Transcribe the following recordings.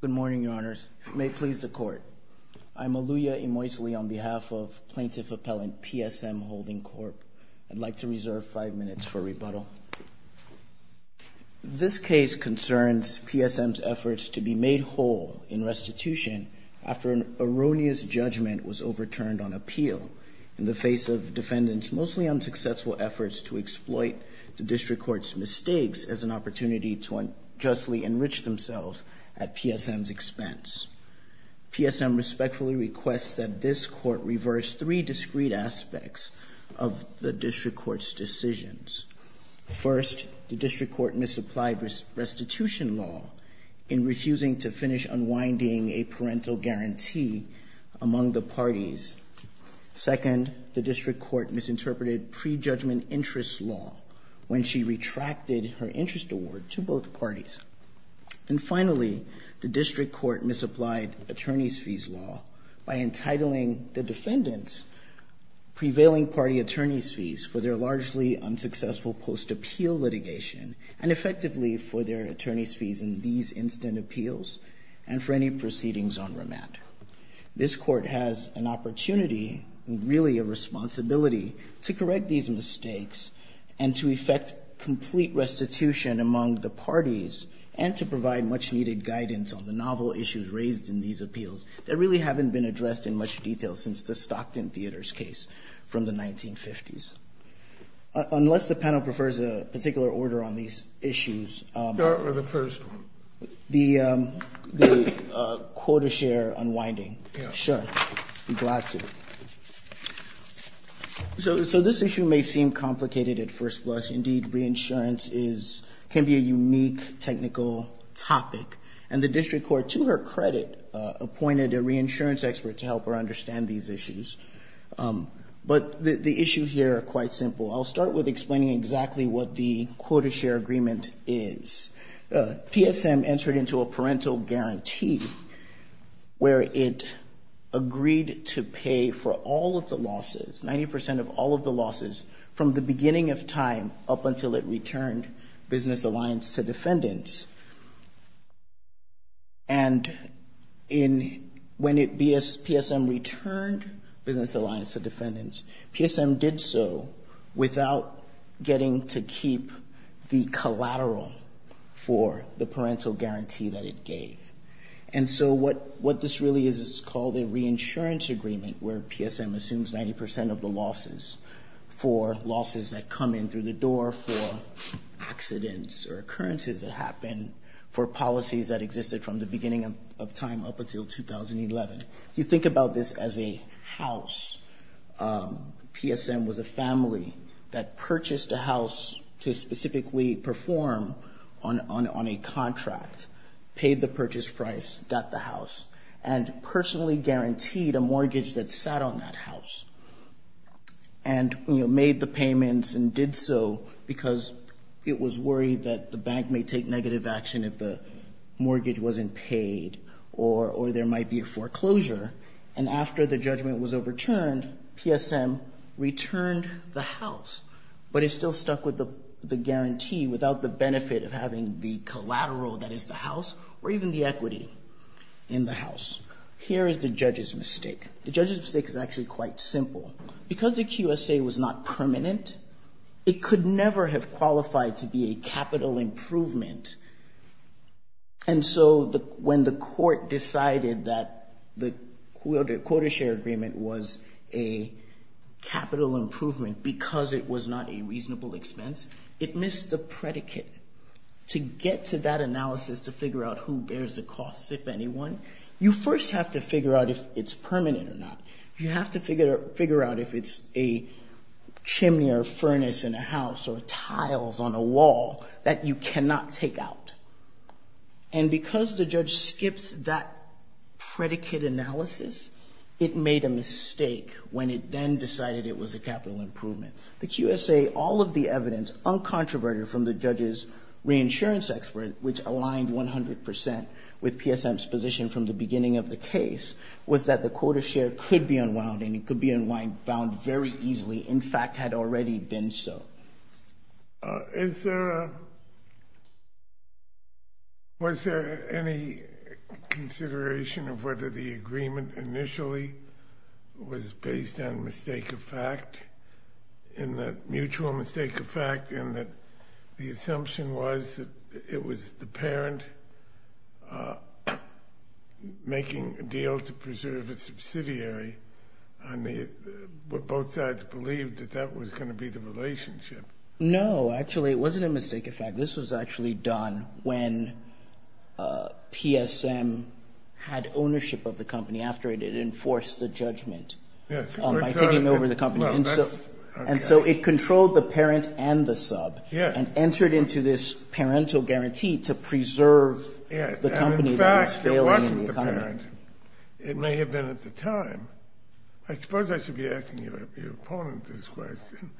Good morning, Your Honors. May it please the Court. I'm Aluya Imoesli on behalf of Plaintiff Appellant PSM Holding Corp. I'd like to reserve five minutes for rebuttal. This case concerns PSM's efforts to be made whole in restitution after an erroneous judgment was overturned on appeal in the face of defendants' mostly unsuccessful efforts to exploit the District Court's mistakes as an opportunity to unjustly enrich themselves at PSM's expense. PSM respectfully requests that this Court reverse three discreet aspects of the District Court's decisions. First, the District Court misapplied restitution law in refusing to finish unwinding a parental guarantee among the parties. Second, the District Court misinterpreted prejudgment interest law when she retracted her interest award to both parties. And finally, the District Court misapplied attorneys' fees law by entitling the defendants' prevailing party attorneys' fees for their largely unsuccessful post-appeal litigation and effectively for their attorneys' fees in these instant appeals and for any proceedings on remand. This Court has an opportunity, really a responsibility, to correct these mistakes and to effect complete restitution among the parties and to provide much-needed guidance on the novel issues raised in these appeals that really haven't been addressed in much detail since the Stockton Theater's case from the 1950s. Unless the panel prefers a particular order on these issues... Start with the first one. The quota share unwinding. Sure. I'm glad to. So this issue may seem complicated at first glance. Indeed, reinsurance can be a unique technical topic. And the District Court, to her credit, appointed a reinsurance expert to help her understand these issues. But the issues here are quite simple. I'll start with explaining exactly what the quota share agreement is. PSM entered into a parental guarantee where it agreed to pay for all of the losses, 90% of all of the losses, from the beginning of time up until it returned Business Alliance to defendants. And when PSM returned Business Alliance to defendants, PSM did so without getting to keep the collateral for the parental guarantee that it gave. And so what this really is is called a reinsurance agreement where PSM assumes 90% of the losses for losses that come in through the door, for accidents or occurrences that happen, for policies that existed from the beginning of time up until 2011. You think about this as a house. PSM was a family that purchased a house to specifically perform on a contract, paid the purchase price, got the house, and personally guaranteed a mortgage that sat on that house. And made the payments and did so because it was worried that the bank may take negative action if the mortgage wasn't paid or there might be a foreclosure. And after the judgment was overturned, PSM returned the house, but it still stuck with the guarantee without the benefit of having the collateral that is the house or even the equity in the house. Here is the judge's mistake. The judge's mistake is actually quite simple. Because the QSA was not permanent, it could never have qualified to be a capital improvement. And so when the court decided that the quarter share agreement was a capital improvement because it was not a reasonable expense, it missed the predicate. To get to that analysis to figure out who bears the costs, if anyone, you first have to figure out if it's permanent or not. You have to figure out if it's a chimney or a furnace in a house or tiles on a wall that you cannot take out. And because the judge skips that predicate analysis, it made a mistake when it then decided it was a capital improvement. The QSA, all of the evidence, uncontroverted from the judge's reinsurance expert, which aligned 100 percent with PSM's position from the beginning of the case, was that the quarter share could be unwound and it could be unwound very easily. In fact, had already been so. Was there any consideration of whether the agreement initially was based on mistake of fact, in that mutual mistake of fact, in that the assumption was that it was the parent making a deal to preserve its subsidiary and both sides believed that that was going to be the relationship? No, actually it wasn't a mistake of fact. This was actually done when PSM had ownership of the company. After it, it enforced the judgment by taking over the company. And so it controlled the parent and the sub and entered into this parental guarantee to preserve the company that was failing in the economy. It may have been at the time. I suppose I should be asking your opponent this question.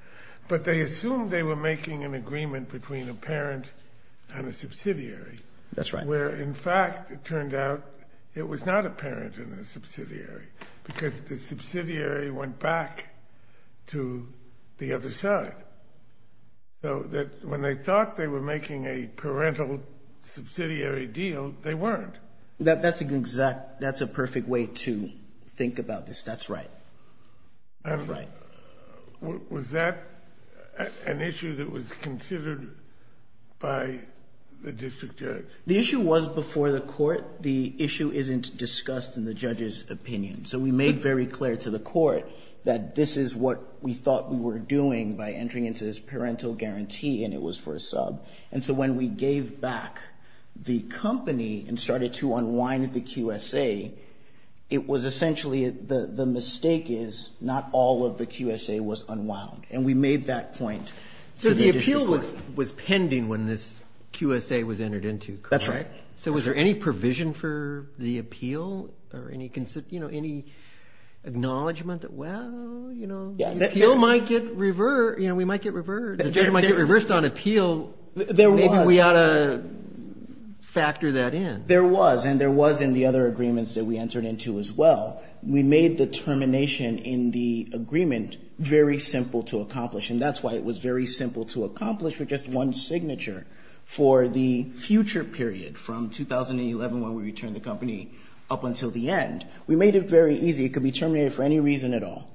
But they assumed they were making an agreement between a parent and a subsidiary. That's right. Where, in fact, it turned out it was not a parent and a subsidiary because the subsidiary went back to the other side. So that when they thought they were making a parental subsidiary deal, they weren't. That's an exact, that's a perfect way to think about this. That's right. Was that an issue that was considered by the district judge? The issue was before the court. The issue isn't discussed in the judge's opinion. So we made very clear to the court that this is what we thought we were doing by entering into this parental guarantee. And it was for a sub. And so when we gave back the company and started to unwind the QSA, it was essentially, the mistake is not all of the QSA was unwound. And we made that point to the district court. So the appeal was pending when this QSA was entered into, correct? That's right. So was there any provision for the appeal or any acknowledgment that, well, you know, the appeal might get reversed, you know, we might get reversed. The judge might get reversed on appeal. There was. Maybe we ought to factor that in. There was. And there was in the other agreements that we entered into as well. We made the termination in the agreement very simple to accomplish. And that's why it was very simple to accomplish with just one signature for the future period, from 2011 when we returned the company up until the end. We made it very easy. It could be terminated for any reason at all.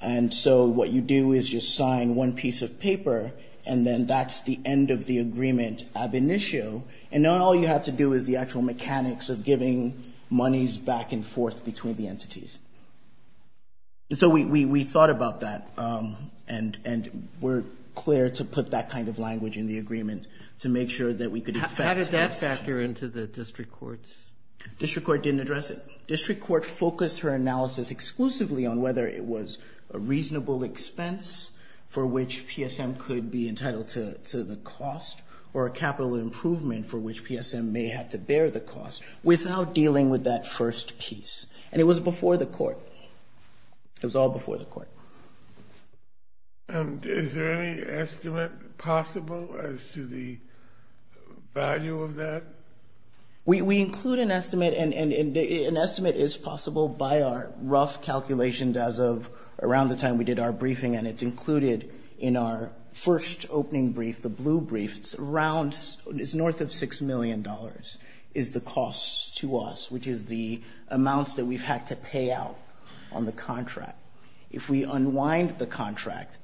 And so what you do is you sign one piece of paper, and then that's the end of the agreement ab initio. And now all you have to do is the actual mechanics of giving monies back and forth between the entities. And so we thought about that and were clear to put that kind of language in the agreement to make sure that we could affect. How did that factor into the district courts? District court didn't address it. District court focused her analysis exclusively on whether it was a reasonable expense for which PSM could be entitled to the cost or a capital improvement for which PSM may have to bear the cost without dealing with that first piece. And it was before the court. It was all before the court. And is there any estimate possible as to the value of that? We include an estimate, and an estimate is possible by our rough calculations as of around the time we did our briefing, and it's included in our first opening brief, the blue brief. It's north of $6 million is the cost to us, which is the amounts that we've had to pay out on the contract. If we unwind the contract,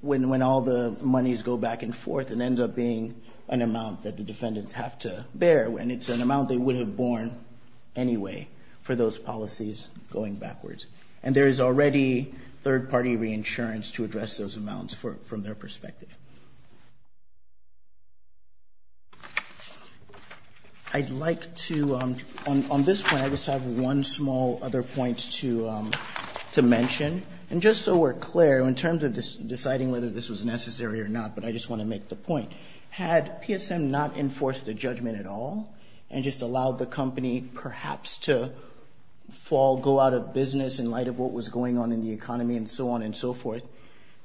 when all the monies go back and forth, it ends up being an amount that the defendants have to bear, and it's an amount they would have borne anyway for those policies going backwards. And there is already third-party reinsurance to address those amounts from their perspective. I'd like to, on this point, I just have one small other point to mention. And just so we're clear, in terms of deciding whether this was necessary or not, but I just want to make the point, had PSM not enforced a judgment at all and just allowed the company perhaps to fall, go out of business, in light of what was going on in the economy and so on and so forth,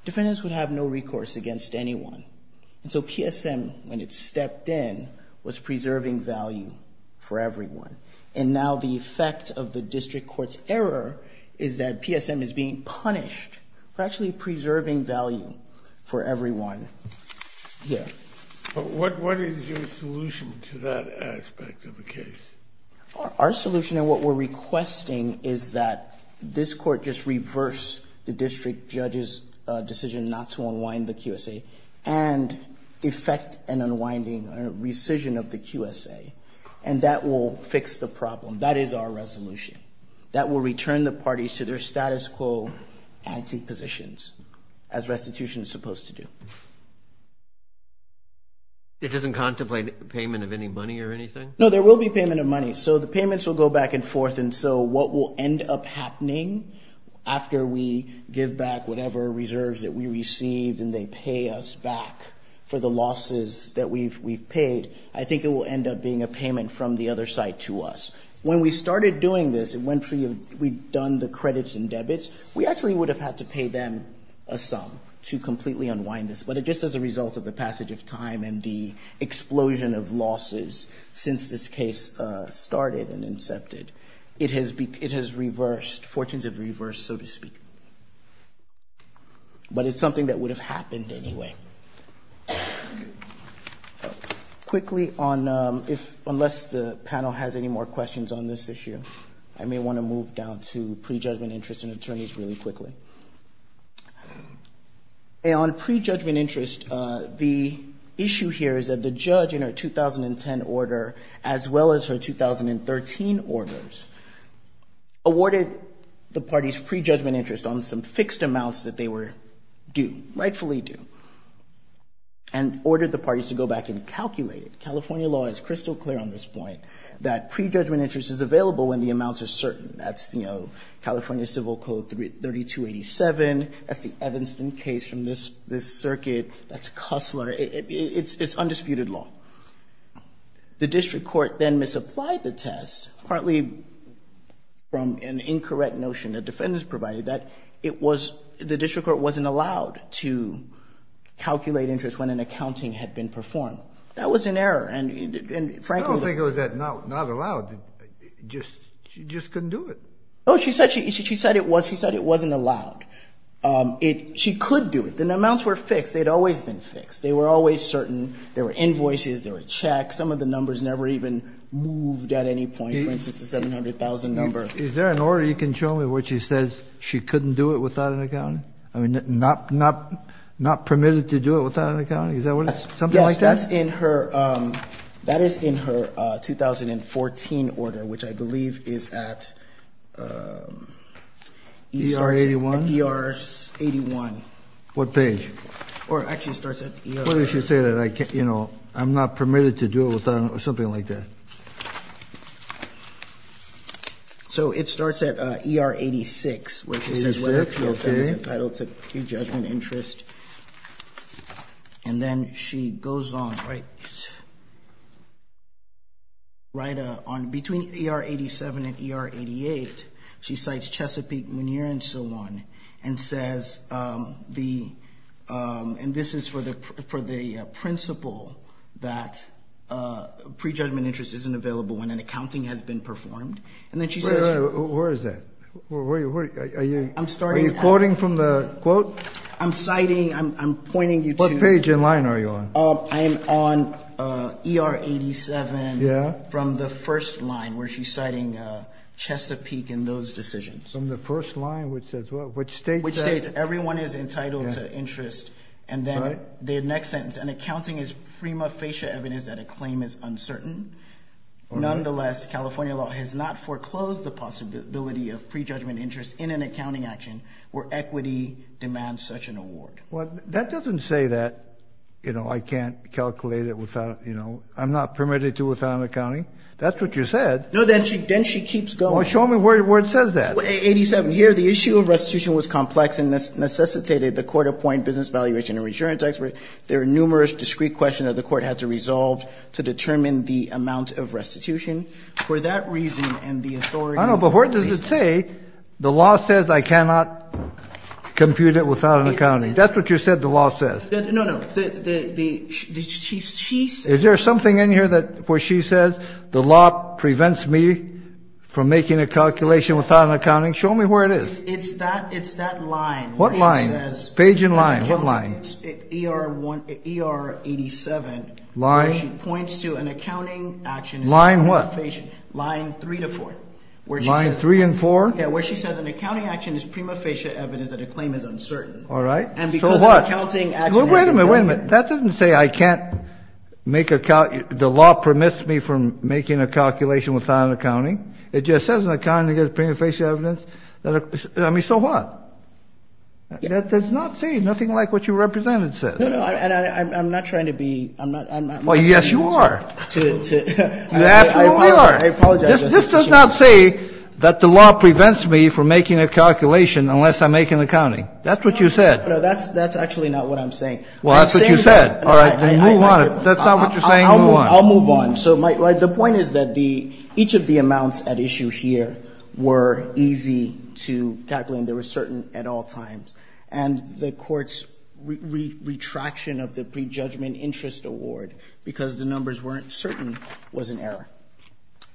defendants would have no recourse against anyone. And so PSM, when it stepped in, was preserving value for everyone. And now the effect of the district court's error is that PSM is being punished for actually preserving value for everyone here. But what is your solution to that aspect of the case? Our solution and what we're requesting is that this court just reverse the district judge's decision not to unwind the QSA and effect an unwinding, a rescission of the QSA, and that will fix the problem. That is our resolution. That will return the parties to their status quo antipositions, as restitution is supposed to do. It doesn't contemplate payment of any money or anything? No, there will be payment of money. So the payments will go back and forth. And so what will end up happening after we give back whatever reserves that we received and they pay us back for the losses that we've paid, I think it will end up being a payment from the other side to us. When we started doing this, when we'd done the credits and debits, we actually would have had to pay them a sum to completely unwind this. But just as a result of the passage of time and the explosion of losses since this case started and incepted, it has reversed, fortunes have reversed, so to speak. But it's something that would have happened anyway. Quickly, unless the panel has any more questions on this issue, I may want to move down to pre-judgment interest in attorneys really quickly. On pre-judgment interest, the issue here is that the judge in her 2010 order, as well as her 2013 orders, awarded the party's pre-judgment interest on some fixed amounts that they were due, rightfully due, and ordered the parties to go back and calculate it. California law is crystal clear on this point, that pre-judgment interest is available when the amounts are certain. That's, you know, California Civil Code 3287. That's the Evanston case from this circuit. That's Cussler. It's undisputed law. The district court then misapplied the test, partly from an incorrect notion the defendants provided, that it was, the district court wasn't allowed to calculate interest when an accounting had been performed. That was an error, and frankly... I don't think it was that not allowed. She just couldn't do it. No, she said it wasn't allowed. She could do it. The amounts were fixed. They'd always been fixed. They were always certain. There were invoices. There were checks. Some of the numbers never even moved at any point. For instance, the $700,000 number. Is there an order you can show me where she says she couldn't do it without an accounting? I mean, not permitted to do it without an accounting? Is that something like that? Yes, that is in her 2014 order, which I believe is at... ER 81. What page? Or actually, it starts at ER... It's entitled to pre-judgment interest. And then she goes on... Between ER 87 and ER 88, she cites Chesapeake, Muneer, and Sillon, and says the... And this is for the principle that pre-judgment interest isn't available when an accounting has been performed. Where is that? Are you quoting from the quote? I'm citing... I'm pointing you to... What page and line are you on? I'm on ER 87 from the first line, where she's citing Chesapeake and those decisions. From the first line, which states what? Which states everyone is entitled to interest. And then the next sentence, an accounting is prima facie evidence that a claim is uncertain. Nonetheless, California law has not foreclosed the possibility of pre-judgment interest in an accounting action where equity demands such an award. Well, that doesn't say that, you know, I can't calculate it without, you know... I'm not permitted to without an accounting. That's what you said. No, then she keeps going. Well, show me where it says that. 87. Here, the issue of restitution was complex and necessitated the court appoint business valuation or insurance expert. There are numerous discrete questions that the court had to resolve to determine the amount of restitution. For that reason and the authority... I know, but where does it say the law says I cannot compute it without an accounting? That's what you said the law says. No, no. She says... Is there something in here where she says the law prevents me from making a calculation without an accounting? Show me where it is. It's that line. What line? Page and line. What line? ER 87. Line? Where she points to an accounting action... Line what? Line 3 to 4. Line 3 and 4? Yeah, where she says an accounting action is prima facie evidence that a claim is uncertain. All right. So what? And because an accounting action... Wait a minute, wait a minute. That doesn't say I can't make a... The law permits me from making a calculation without an accounting. It just says an accounting is prima facie evidence that a... I mean, so what? That does not say nothing like what you represented says. No, no. And I'm not trying to be... Well, yes, you are. You absolutely are. I apologize, Justice Kagan. This does not say that the law prevents me from making a calculation unless I make an accounting. That's what you said. No, that's actually not what I'm saying. Well, that's what you said. All right. Then move on. If that's not what you're saying, move on. I'll move on. So the point is that each of the amounts at issue here were easy to calculate and they were certain at all times. And the Court's retraction of the prejudgment interest award because the numbers weren't certain was an error.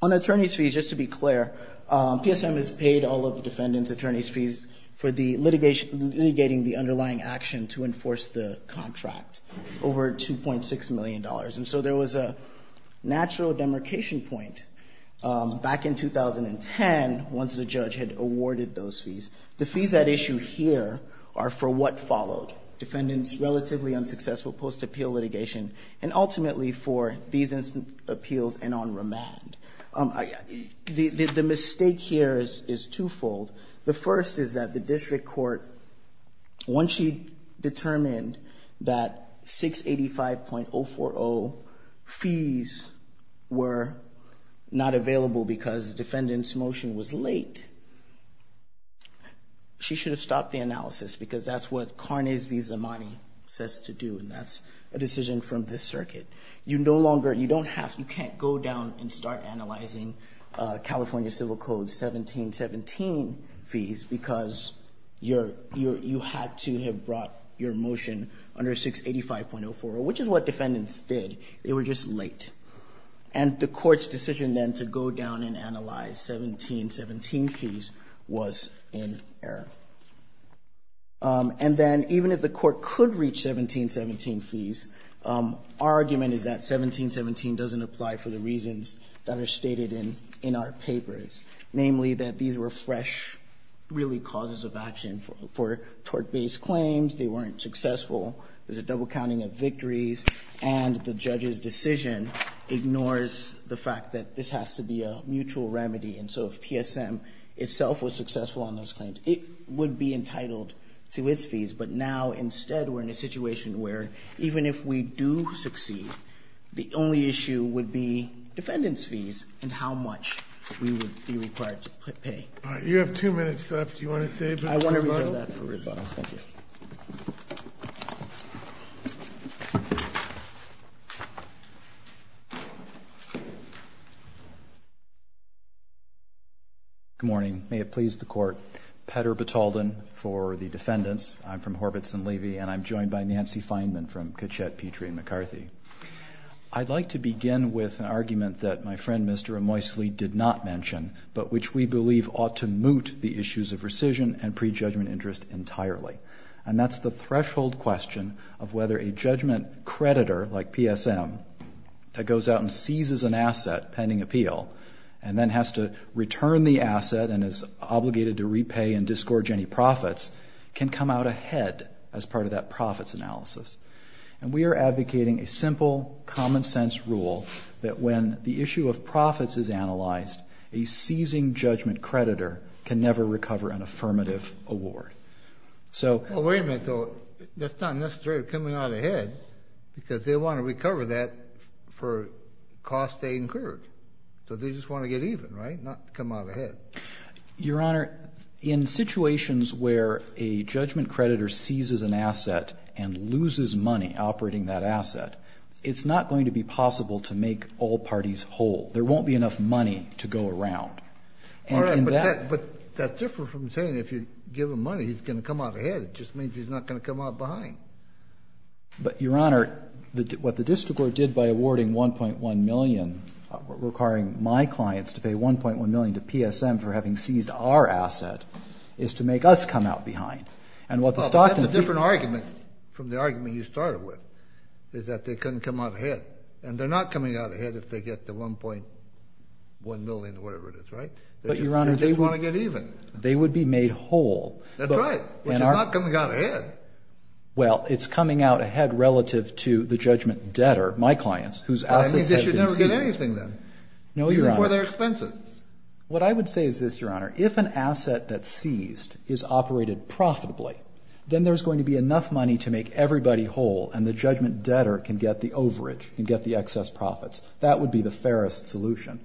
On attorney's fees, just to be clear, PSM has paid all of the defendants' attorney's fees for the litigation, litigating the underlying action to enforce the contract. It's over $2.6 million. And so there was a natural demarcation point back in 2010 once the judge had awarded those fees. The fees at issue here are for what followed, defendants' relatively unsuccessful post-appeal litigation, and ultimately for these appeals and on remand. The mistake here is twofold. The first is that the district court, once she determined that 685.040 fees were not available because the defendant's motion was late, she should have stopped the analysis because that's what Carnes v. Zamani says to do, and that's a decision from this circuit. You no longer, you don't have, you can't go down and start analyzing California Civil Code 1717 fees because you had to have brought your motion under 685.040, which is what defendants did. They were just late. And the Court's decision then to go down and analyze 1717 fees was in error. And then even if the Court could reach 1717 fees, our argument is that 1717 doesn't apply for the reasons that are stated in our papers, namely that these were fresh, really, causes of action for tort-based claims. They weren't successful. There's a double counting of victories. And the judge's decision ignores the fact that this has to be a mutual remedy. And so if PSM itself was successful on those claims, it would be entitled to its fees. But now, instead, we're in a situation where even if we do succeed, the only issue would be defendants' fees and how much we would be required to pay. All right. You have two minutes left. Do you want to save it for rebuttal? I want to reserve that for rebuttal. Thank you. Good morning. May it please the Court. Petter Batalden for the defendants. I'm from Horvitz and Levy. And I'm joined by Nancy Feinman from Kitchett, Petrie and McCarthy. I'd like to begin with an argument that my friend, Mr. Emoisley, did not mention, but which we believe ought to moot the issues of rescission and prejudgment interest entirely. pending appeal, and then has to return the asset and is obligated to repay and disgorge any profits, can come out ahead as part of that profits analysis. And we are advocating a simple, common-sense rule that when the issue of profits is analyzed, a seizing judgment creditor can never recover an affirmative award. Well, wait a minute, though. That's not necessarily coming out ahead because they want to recover that for the cost they incurred. So they just want to get even, right? Not come out ahead. Your Honor, in situations where a judgment creditor seizes an asset and loses money operating that asset, it's not going to be possible to make all parties whole. There won't be enough money to go around. But that's different from saying if you give him money, he's going to come out ahead. It just means he's not going to come out behind. But, Your Honor, what the district court did by awarding $1.1 million, requiring my clients to pay $1.1 million to PSM for having seized our asset, is to make us come out behind. Well, that's a different argument from the argument you started with, is that they couldn't come out ahead. And they're not coming out ahead if they get the $1.1 million or whatever it is, right? They just want to get even. They would be made whole. That's right. Which is not coming out ahead. Well, it's coming out ahead relative to the judgment debtor, my clients, whose assets have been seized. That means they should never get anything then. No, Your Honor. Even for their expenses. What I would say is this, Your Honor. If an asset that's seized is operated profitably, then there's going to be enough money to make everybody whole, and the judgment debtor can get the overage, can get the excess profits. That would be the fairest solution.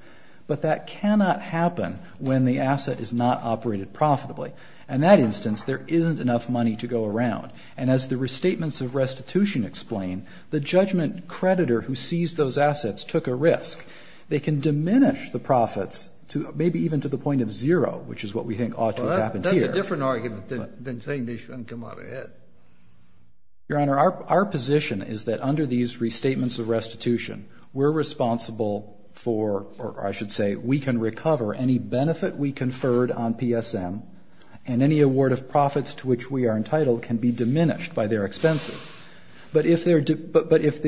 But that cannot happen when the asset is not operated profitably. In that instance, there isn't enough money to go around. And as the restatements of restitution explain, the judgment creditor who seized those assets took a risk. They can diminish the profits, maybe even to the point of zero, which is what we think ought to have happened here. Well, that's a different argument than saying they shouldn't come out ahead. Your Honor, our position is that under these restatements of restitution, we're responsible for, or I should say, we can recover any benefit we conferred on PSM, and any award of profits to which we are entitled can be diminished by their expenses. But if their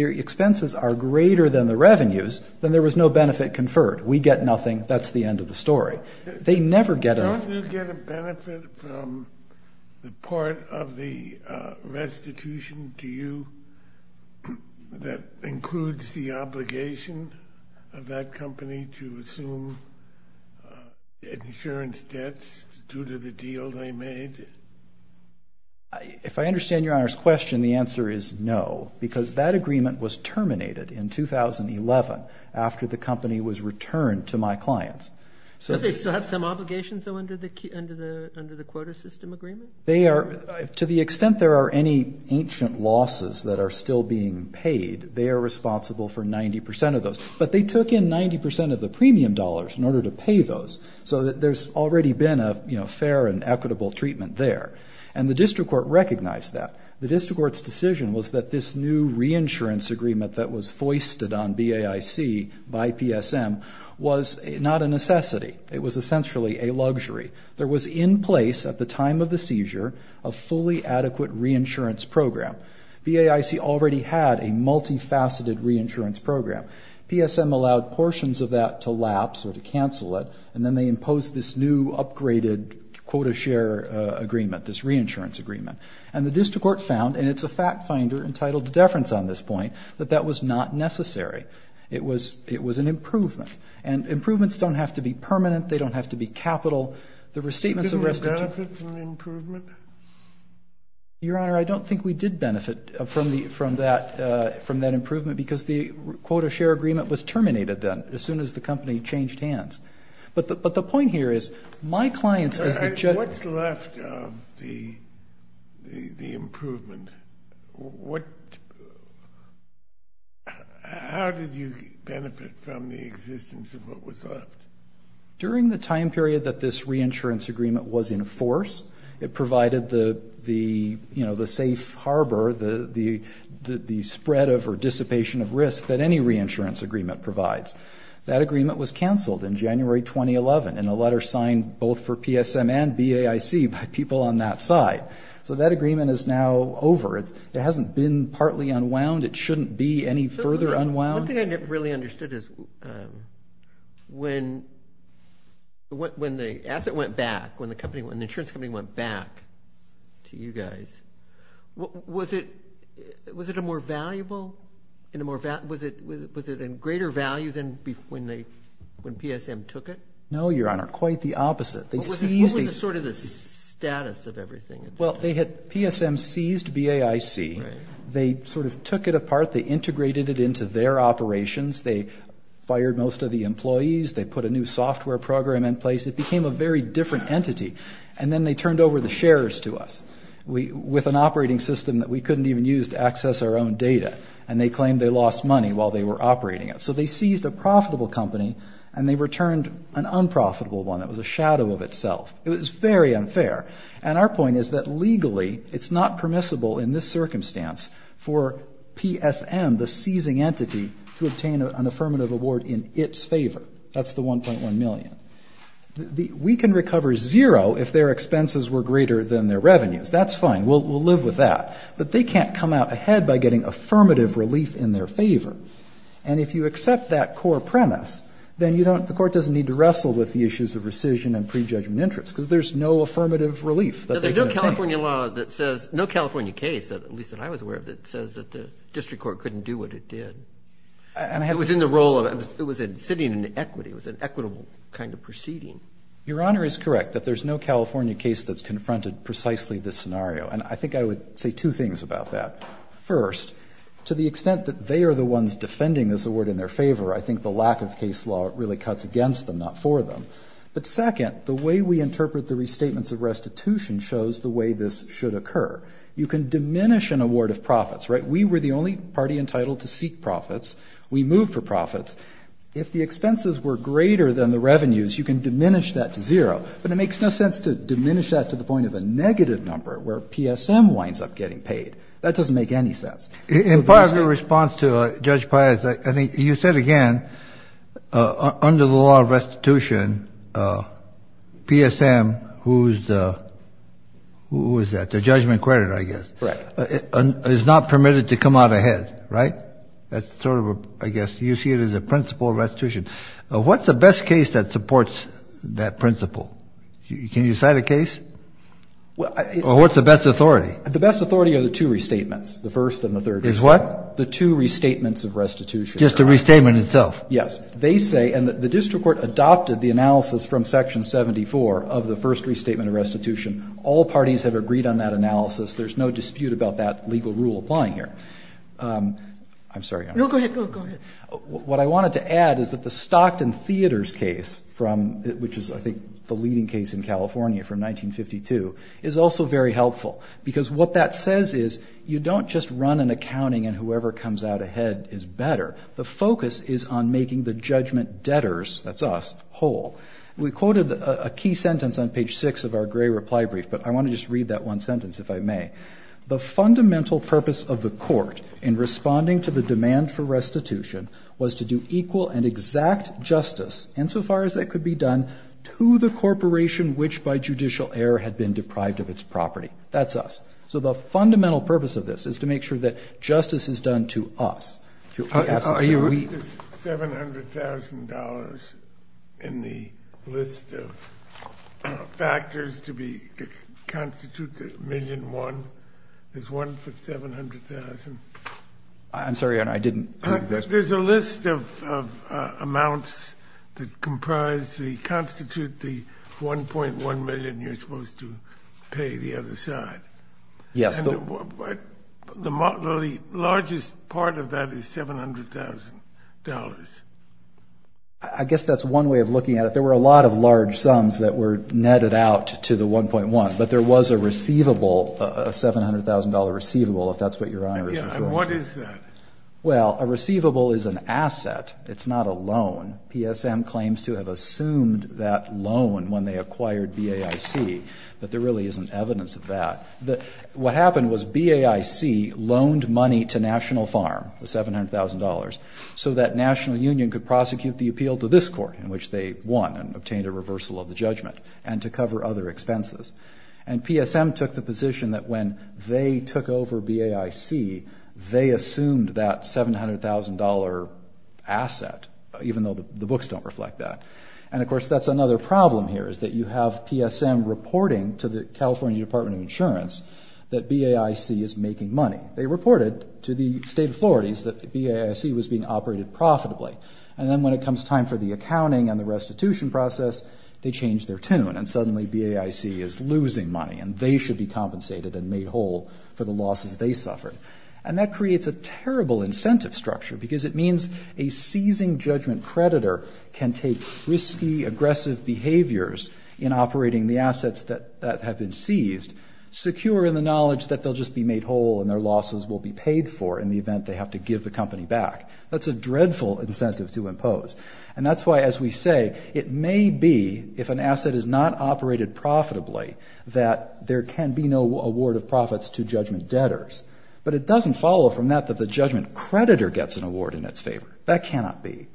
expenses are greater than the revenues, then there was no benefit conferred. We get nothing. That's the end of the story. They never get anything. Don't you get a benefit from the part of the restitution to you that includes the obligation of that company to assume insurance debts due to the deal they made? If I understand Your Honor's question, the answer is no, because that agreement was terminated in 2011 after the company was returned to my clients. But they still have some obligations, though, under the quota system agreement? To the extent there are any ancient losses that are still being paid, they are responsible for 90% of those. But they took in 90% of the premium dollars in order to pay those, so there's already been a fair and equitable treatment there. And the district court recognized that. The district court's decision was that this new reinsurance agreement that was foisted on BAIC by PSM was not a necessity. It was essentially a luxury. There was in place at the time of the seizure a fully adequate reinsurance program. BAIC already had a multifaceted reinsurance program. PSM allowed portions of that to lapse or to cancel it, and then they imposed this new upgraded quota share agreement, this reinsurance agreement. And the district court found, and it's a fact finder entitled to deference on this point, that that was not necessary. It was an improvement. And improvements don't have to be permanent. They don't have to be capital. There were statements of restitution. Didn't we benefit from the improvement? Your Honor, I don't think we did benefit from that improvement, because the quota share agreement was terminated then, as soon as the company changed hands. But the point here is my clients as the judge. What's left of the improvement? How did you benefit from the existence of what was left? During the time period that this reinsurance agreement was in force, it provided the safe harbor, the spread of or dissipation of risk that any reinsurance agreement provides. That agreement was canceled in January 2011, in a letter signed both for PSM and BAIC by people on that side. So that agreement is now over. It hasn't been partly unwound. It shouldn't be any further unwound. One thing I really understood is when the asset went back, when the insurance company went back to you guys, was it a more valuable? Was it in greater value than when PSM took it? No, Your Honor, quite the opposite. What was sort of the status of everything? Well, PSM seized BAIC. They sort of took it apart. They integrated it into their operations. They fired most of the employees. They put a new software program in place. It became a very different entity. And then they turned over the shares to us with an operating system that we couldn't even use to access our own data, and they claimed they lost money while they were operating it. So they seized a profitable company, and they returned an unprofitable one. It was a shadow of itself. It was very unfair. And our point is that legally it's not permissible in this circumstance for PSM, the seizing entity, to obtain an affirmative award in its favor. That's the $1.1 million. We can recover zero if their expenses were greater than their revenues. That's fine. We'll live with that. But they can't come out ahead by getting affirmative relief in their favor. And if you accept that core premise, then the court doesn't need to wrestle with the issues of rescission and prejudgment interest because there's no affirmative relief that they can obtain. There's no California law that says no California case, at least that I was aware of, that says that the district court couldn't do what it did. It was in the role of it was sitting in equity. It was an equitable kind of proceeding. Your Honor is correct that there's no California case that's confronted precisely this scenario. And I think I would say two things about that. First, to the extent that they are the ones defending this award in their favor, I think the lack of case law really cuts against them, not for them. But second, the way we interpret the restatements of restitution shows the way this should occur. You can diminish an award of profits, right? We were the only party entitled to seek profits. We moved for profits. If the expenses were greater than the revenues, you can diminish that to zero. But it makes no sense to diminish that to the point of a negative number where PSM winds up getting paid. That doesn't make any sense. In part of the response to Judge Pius, I think you said again, under the law of restitution, PSM, who's the, who is that? The judgment credit, I guess. Correct. Is not permitted to come out ahead, right? That's sort of a, I guess, you see it as a principle of restitution. What's the best case that supports that principle? Can you cite a case? Or what's the best authority? The best authority are the two restatements, the first and the third. Is what? The two restatements of restitution. Just the restatement itself? Yes. They say, and the district court adopted the analysis from Section 74 of the first restatement of restitution. All parties have agreed on that analysis. There's no dispute about that legal rule applying here. I'm sorry. No, go ahead. Go ahead. What I wanted to add is that the Stockton Theaters case from, which is, I think, the leading case in California from 1952, is also very helpful. Because what that says is you don't just run an accounting and whoever comes out ahead is better. The focus is on making the judgment debtors, that's us, whole. We quoted a key sentence on page six of our gray reply brief, but I want to just read that one sentence, if I may. The fundamental purpose of the court in responding to the demand for restitution was to do equal and exact justice, insofar as that could be done, to the corporation which by judicial error had been deprived of its property. That's us. So the fundamental purpose of this is to make sure that justice is done to us. $700,000 in the list of factors to constitute the million won. There's one for $700,000. I'm sorry, Your Honor. I didn't hear the question. There's a list of amounts that comprise, constitute the $1.1 million you're supposed to pay the other side. Yes. The largest part of that is $700,000. I guess that's one way of looking at it. There were a lot of large sums that were netted out to the 1.1, but there was a receivable, a $700,000 receivable, if that's what Your Honor is referring to. And what is that? Well, a receivable is an asset. It's not a loan. PSM claims to have assumed that loan when they acquired BAIC, but there really isn't evidence of that. What happened was BAIC loaned money to National Farm, the $700,000, so that National Union could prosecute the appeal to this court, in which they won and obtained a reversal of the judgment, and to cover other expenses. And PSM took the position that when they took over BAIC, they assumed that $700,000 asset, even though the books don't reflect that. And, of course, that's another problem here, is that you have PSM reporting to the California Department of Insurance that BAIC is making money. They reported to the state authorities that BAIC was being operated profitably. And then when it comes time for the accounting and the restitution process, they change their tune, and suddenly BAIC is losing money, and they should be compensated and made whole for the losses they suffered. And that creates a terrible incentive structure, because it means a seizing judgment creditor can take risky, aggressive behaviors in operating the assets that have been seized, secure in the knowledge that they'll just be made whole and their losses will be paid for in the event they have to give the company back. That's a dreadful incentive to impose. And that's why, as we say, it may be, if an asset is not operated profitably, that there can be no award of profits to judgment debtors. But it doesn't follow from that that the judgment creditor gets an award in its favor. That cannot be.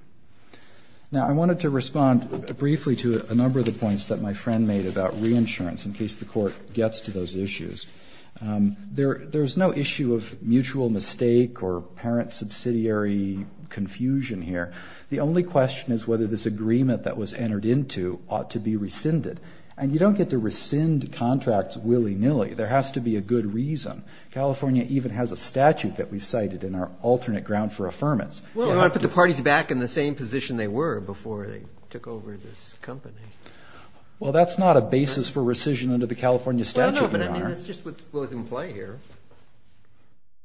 Now, I wanted to respond briefly to a number of the points that my friend made about reinsurance in case the court gets to those issues. There's no issue of mutual mistake or parent-subsidiary confusion here. The only question is whether this agreement that was entered into ought to be rescinded. And you don't get to rescind contracts willy-nilly. There has to be a good reason. California even has a statute that we've cited in our alternate ground for affirmance. You want to put the parties back in the same position they were before they took over this company? Well, that's not a basis for rescission under the California statute, Your Honor. No, no, but I mean that's just what's in play here,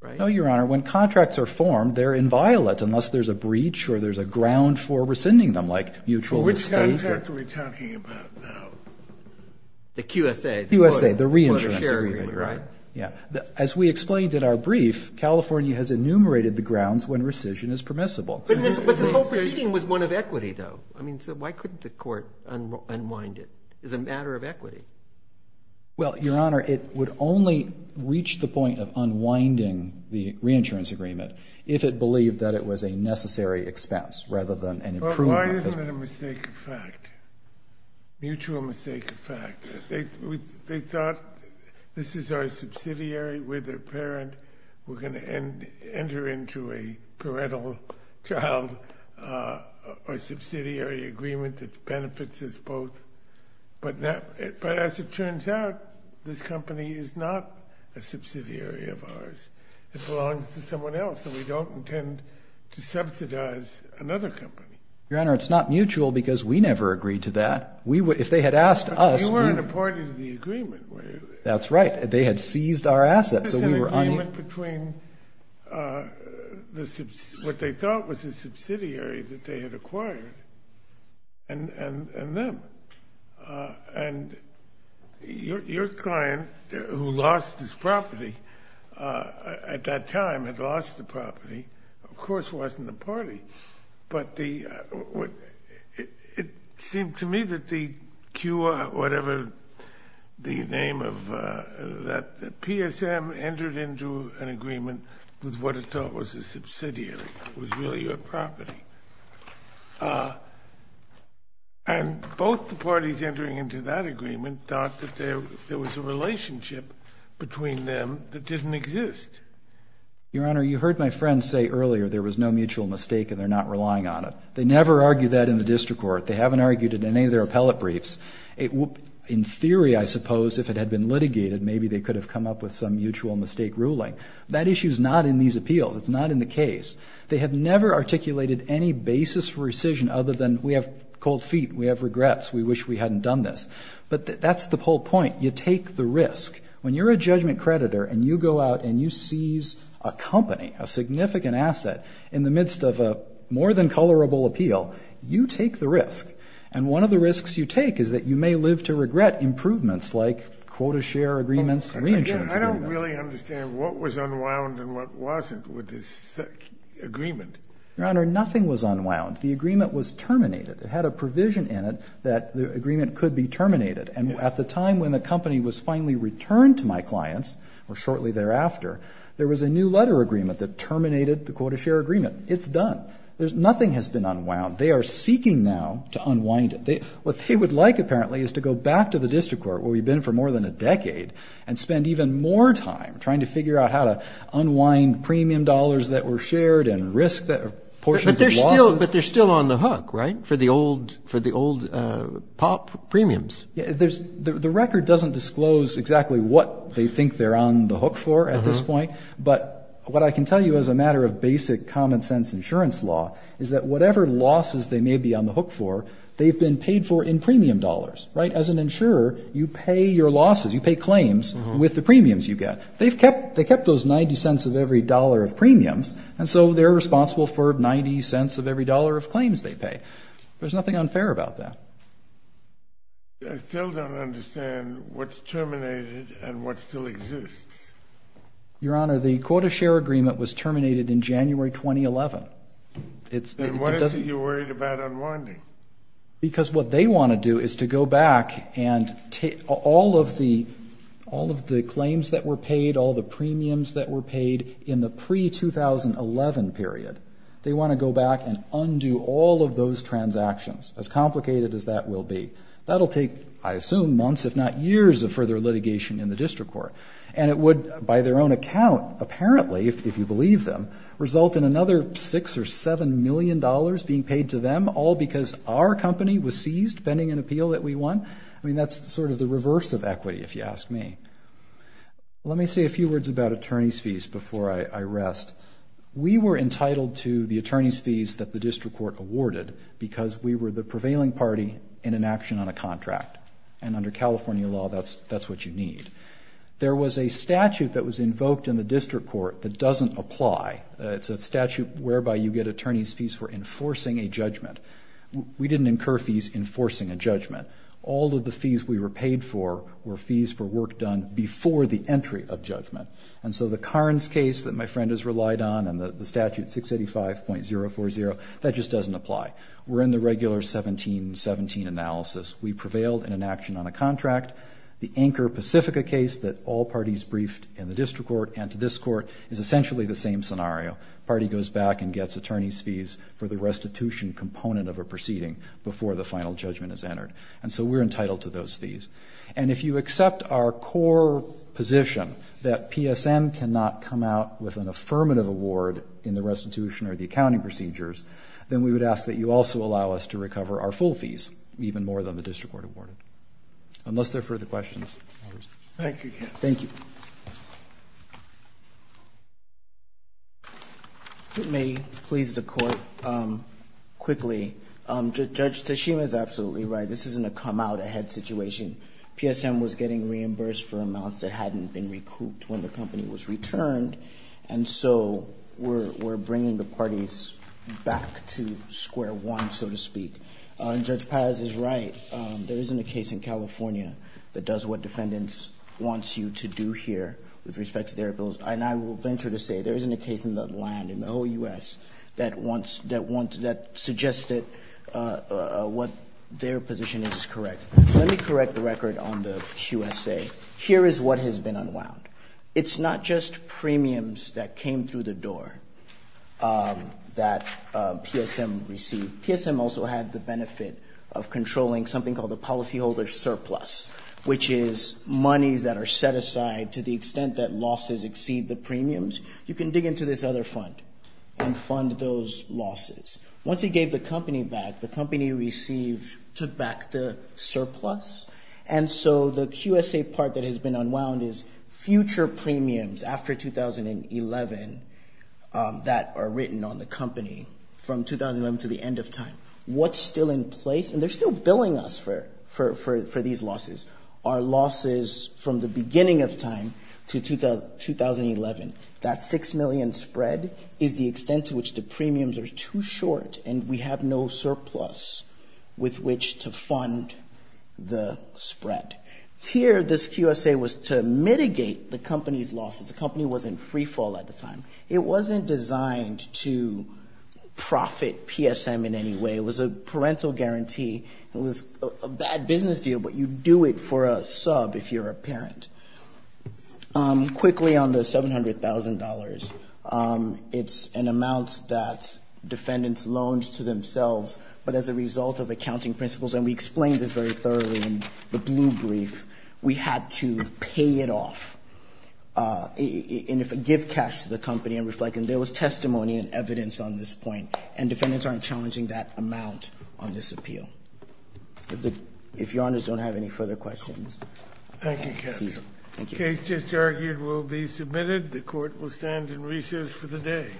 right? No, Your Honor. When contracts are formed, they're inviolate unless there's a breach or there's a ground for rescinding them like mutual mistake. Which contract are we talking about now? The QSA. The QSA, the reinsurance agreement. Yeah. As we explained in our brief, California has enumerated the grounds when rescission is permissible. But this whole proceeding was one of equity, though. I mean, so why couldn't the court unwind it? It's a matter of equity. Well, Your Honor, it would only reach the point of unwinding the reinsurance agreement if it believed that it was a necessary expense rather than an improvement. But why isn't it a mistake of fact, mutual mistake of fact? They thought this is our subsidiary, we're their parent, we're going to enter into a parental child or subsidiary agreement that benefits us both. But as it turns out, this company is not a subsidiary of ours. It belongs to someone else, and we don't intend to subsidize another company. Your Honor, it's not mutual because we never agreed to that. But we weren't a party to the agreement. That's right. They had seized our assets. There's an agreement between what they thought was a subsidiary that they had acquired and them. And your client, who lost his property at that time, had lost the property, of course wasn't the party. But it seemed to me that the QR, whatever the name of that, the PSM entered into an agreement with what it thought was a subsidiary. It was really your property. And both the parties entering into that agreement thought that there was a relationship between them that didn't exist. Your Honor, you heard my friend say earlier there was no mutual mistake and they're not relying on it. They never argue that in the district court. They haven't argued it in any of their appellate briefs. In theory, I suppose, if it had been litigated, maybe they could have come up with some mutual mistake ruling. That issue is not in these appeals. It's not in the case. They have never articulated any basis for rescission other than we have cold feet, we have regrets, we wish we hadn't done this. But that's the whole point. You take the risk. When you're a judgment creditor and you go out and you seize a company, a significant asset, in the midst of a more than colorable appeal, you take the risk. And one of the risks you take is that you may live to regret improvements like quota share agreements and reinsurance agreements. I don't really understand what was unwound and what wasn't with this agreement. Your Honor, nothing was unwound. The agreement was terminated. It had a provision in it that the agreement could be terminated. And at the time when the company was finally returned to my clients, or shortly thereafter, there was a new letter agreement that terminated the quota share agreement. It's done. Nothing has been unwound. They are seeking now to unwind it. What they would like, apparently, is to go back to the district court, where we've been for more than a decade, and spend even more time trying to figure out how to unwind premium dollars that were shared and portions of losses. But they're still on the hook, right, for the old POP premiums? The record doesn't disclose exactly what they think they're on the hook for at this point. But what I can tell you as a matter of basic common-sense insurance law is that whatever losses they may be on the hook for, they've been paid for in premium dollars, right? As an insurer, you pay your losses, you pay claims with the premiums you get. They've kept those $0.90 of every dollar of premiums, and so they're responsible for $0.90 of every dollar of claims they pay. There's nothing unfair about that. I still don't understand what's terminated and what still exists. Your Honor, the quota share agreement was terminated in January 2011. Then why is it you're worried about unwinding? Because what they want to do is to go back and take all of the claims that were paid, all the premiums that were paid in the pre-2011 period. They want to go back and undo all of those transactions, as complicated as that will be. That'll take, I assume, months if not years of further litigation in the district court. And it would, by their own account, apparently, if you believe them, result in another $6 million or $7 million being paid to them, all because our company was seized pending an appeal that we won? I mean, that's sort of the reverse of equity, if you ask me. Let me say a few words about attorney's fees before I rest. We were entitled to the attorney's fees that the district court awarded because we were the prevailing party in an action on a contract. And under California law, that's what you need. There was a statute that was invoked in the district court that doesn't apply. It's a statute whereby you get attorney's fees for enforcing a judgment. We didn't incur fees enforcing a judgment. All of the fees we were paid for were fees for work done before the entry of judgment. And so the Carnes case that my friend has relied on and the statute 685.040, that just doesn't apply. We're in the regular 1717 analysis. We prevailed in an action on a contract. The Anchor Pacifica case that all parties briefed in the district court and to this court is essentially the same scenario. The party goes back and gets attorney's fees for the restitution component of a proceeding before the final judgment is entered. And so we're entitled to those fees. And if you accept our core position that PSM cannot come out with an affirmative award in the restitution or the accounting procedures, then we would ask that you also allow us to recover our full fees, even more than the district court awarded. Unless there are further questions. Thank you. Thank you. If it may please the Court, quickly, Judge Teshima is absolutely right. This isn't a come-out-ahead situation. PSM was getting reimbursed for amounts that hadn't been recouped when the company was returned. And so we're bringing the parties back to square one, so to speak. And Judge Paz is right. There isn't a case in California that does what defendants want you to do here with respect to their bills. And I will venture to say there isn't a case in the land, in the whole U.S., that suggests that their position is correct. Let me correct the record on the QSA. Here is what has been unwound. It's not just premiums that came through the door that PSM received. PSM also had the benefit of controlling something called the policyholder surplus, which is monies that are set aside to the extent that losses exceed the premiums. You can dig into this other fund and fund those losses. Once he gave the company back, the company received, took back the surplus. And so the QSA part that has been unwound is future premiums after 2011 that are written on the company from 2011 to the end of time. What's still in place, and they're still billing us for these losses, are losses from the beginning of time to 2011. That $6 million spread is the extent to which the premiums are too short, and we have no surplus with which to fund the spread. Here, this QSA was to mitigate the company's losses. The company was in free fall at the time. It wasn't designed to profit PSM in any way. It was a parental guarantee. It was a bad business deal, but you do it for a sub if you're a parent. Quickly on the $700,000, it's an amount that defendants loaned to themselves, but as a result of accounting principles, and we explained this very thoroughly in the blue brief, we had to pay it off and give cash to the company and reflect. And there was testimony and evidence on this point, and defendants aren't challenging that amount on this appeal. If your honors don't have any further questions. Thank you, counsel. The case just argued will be submitted. The court will stand in recess for the day.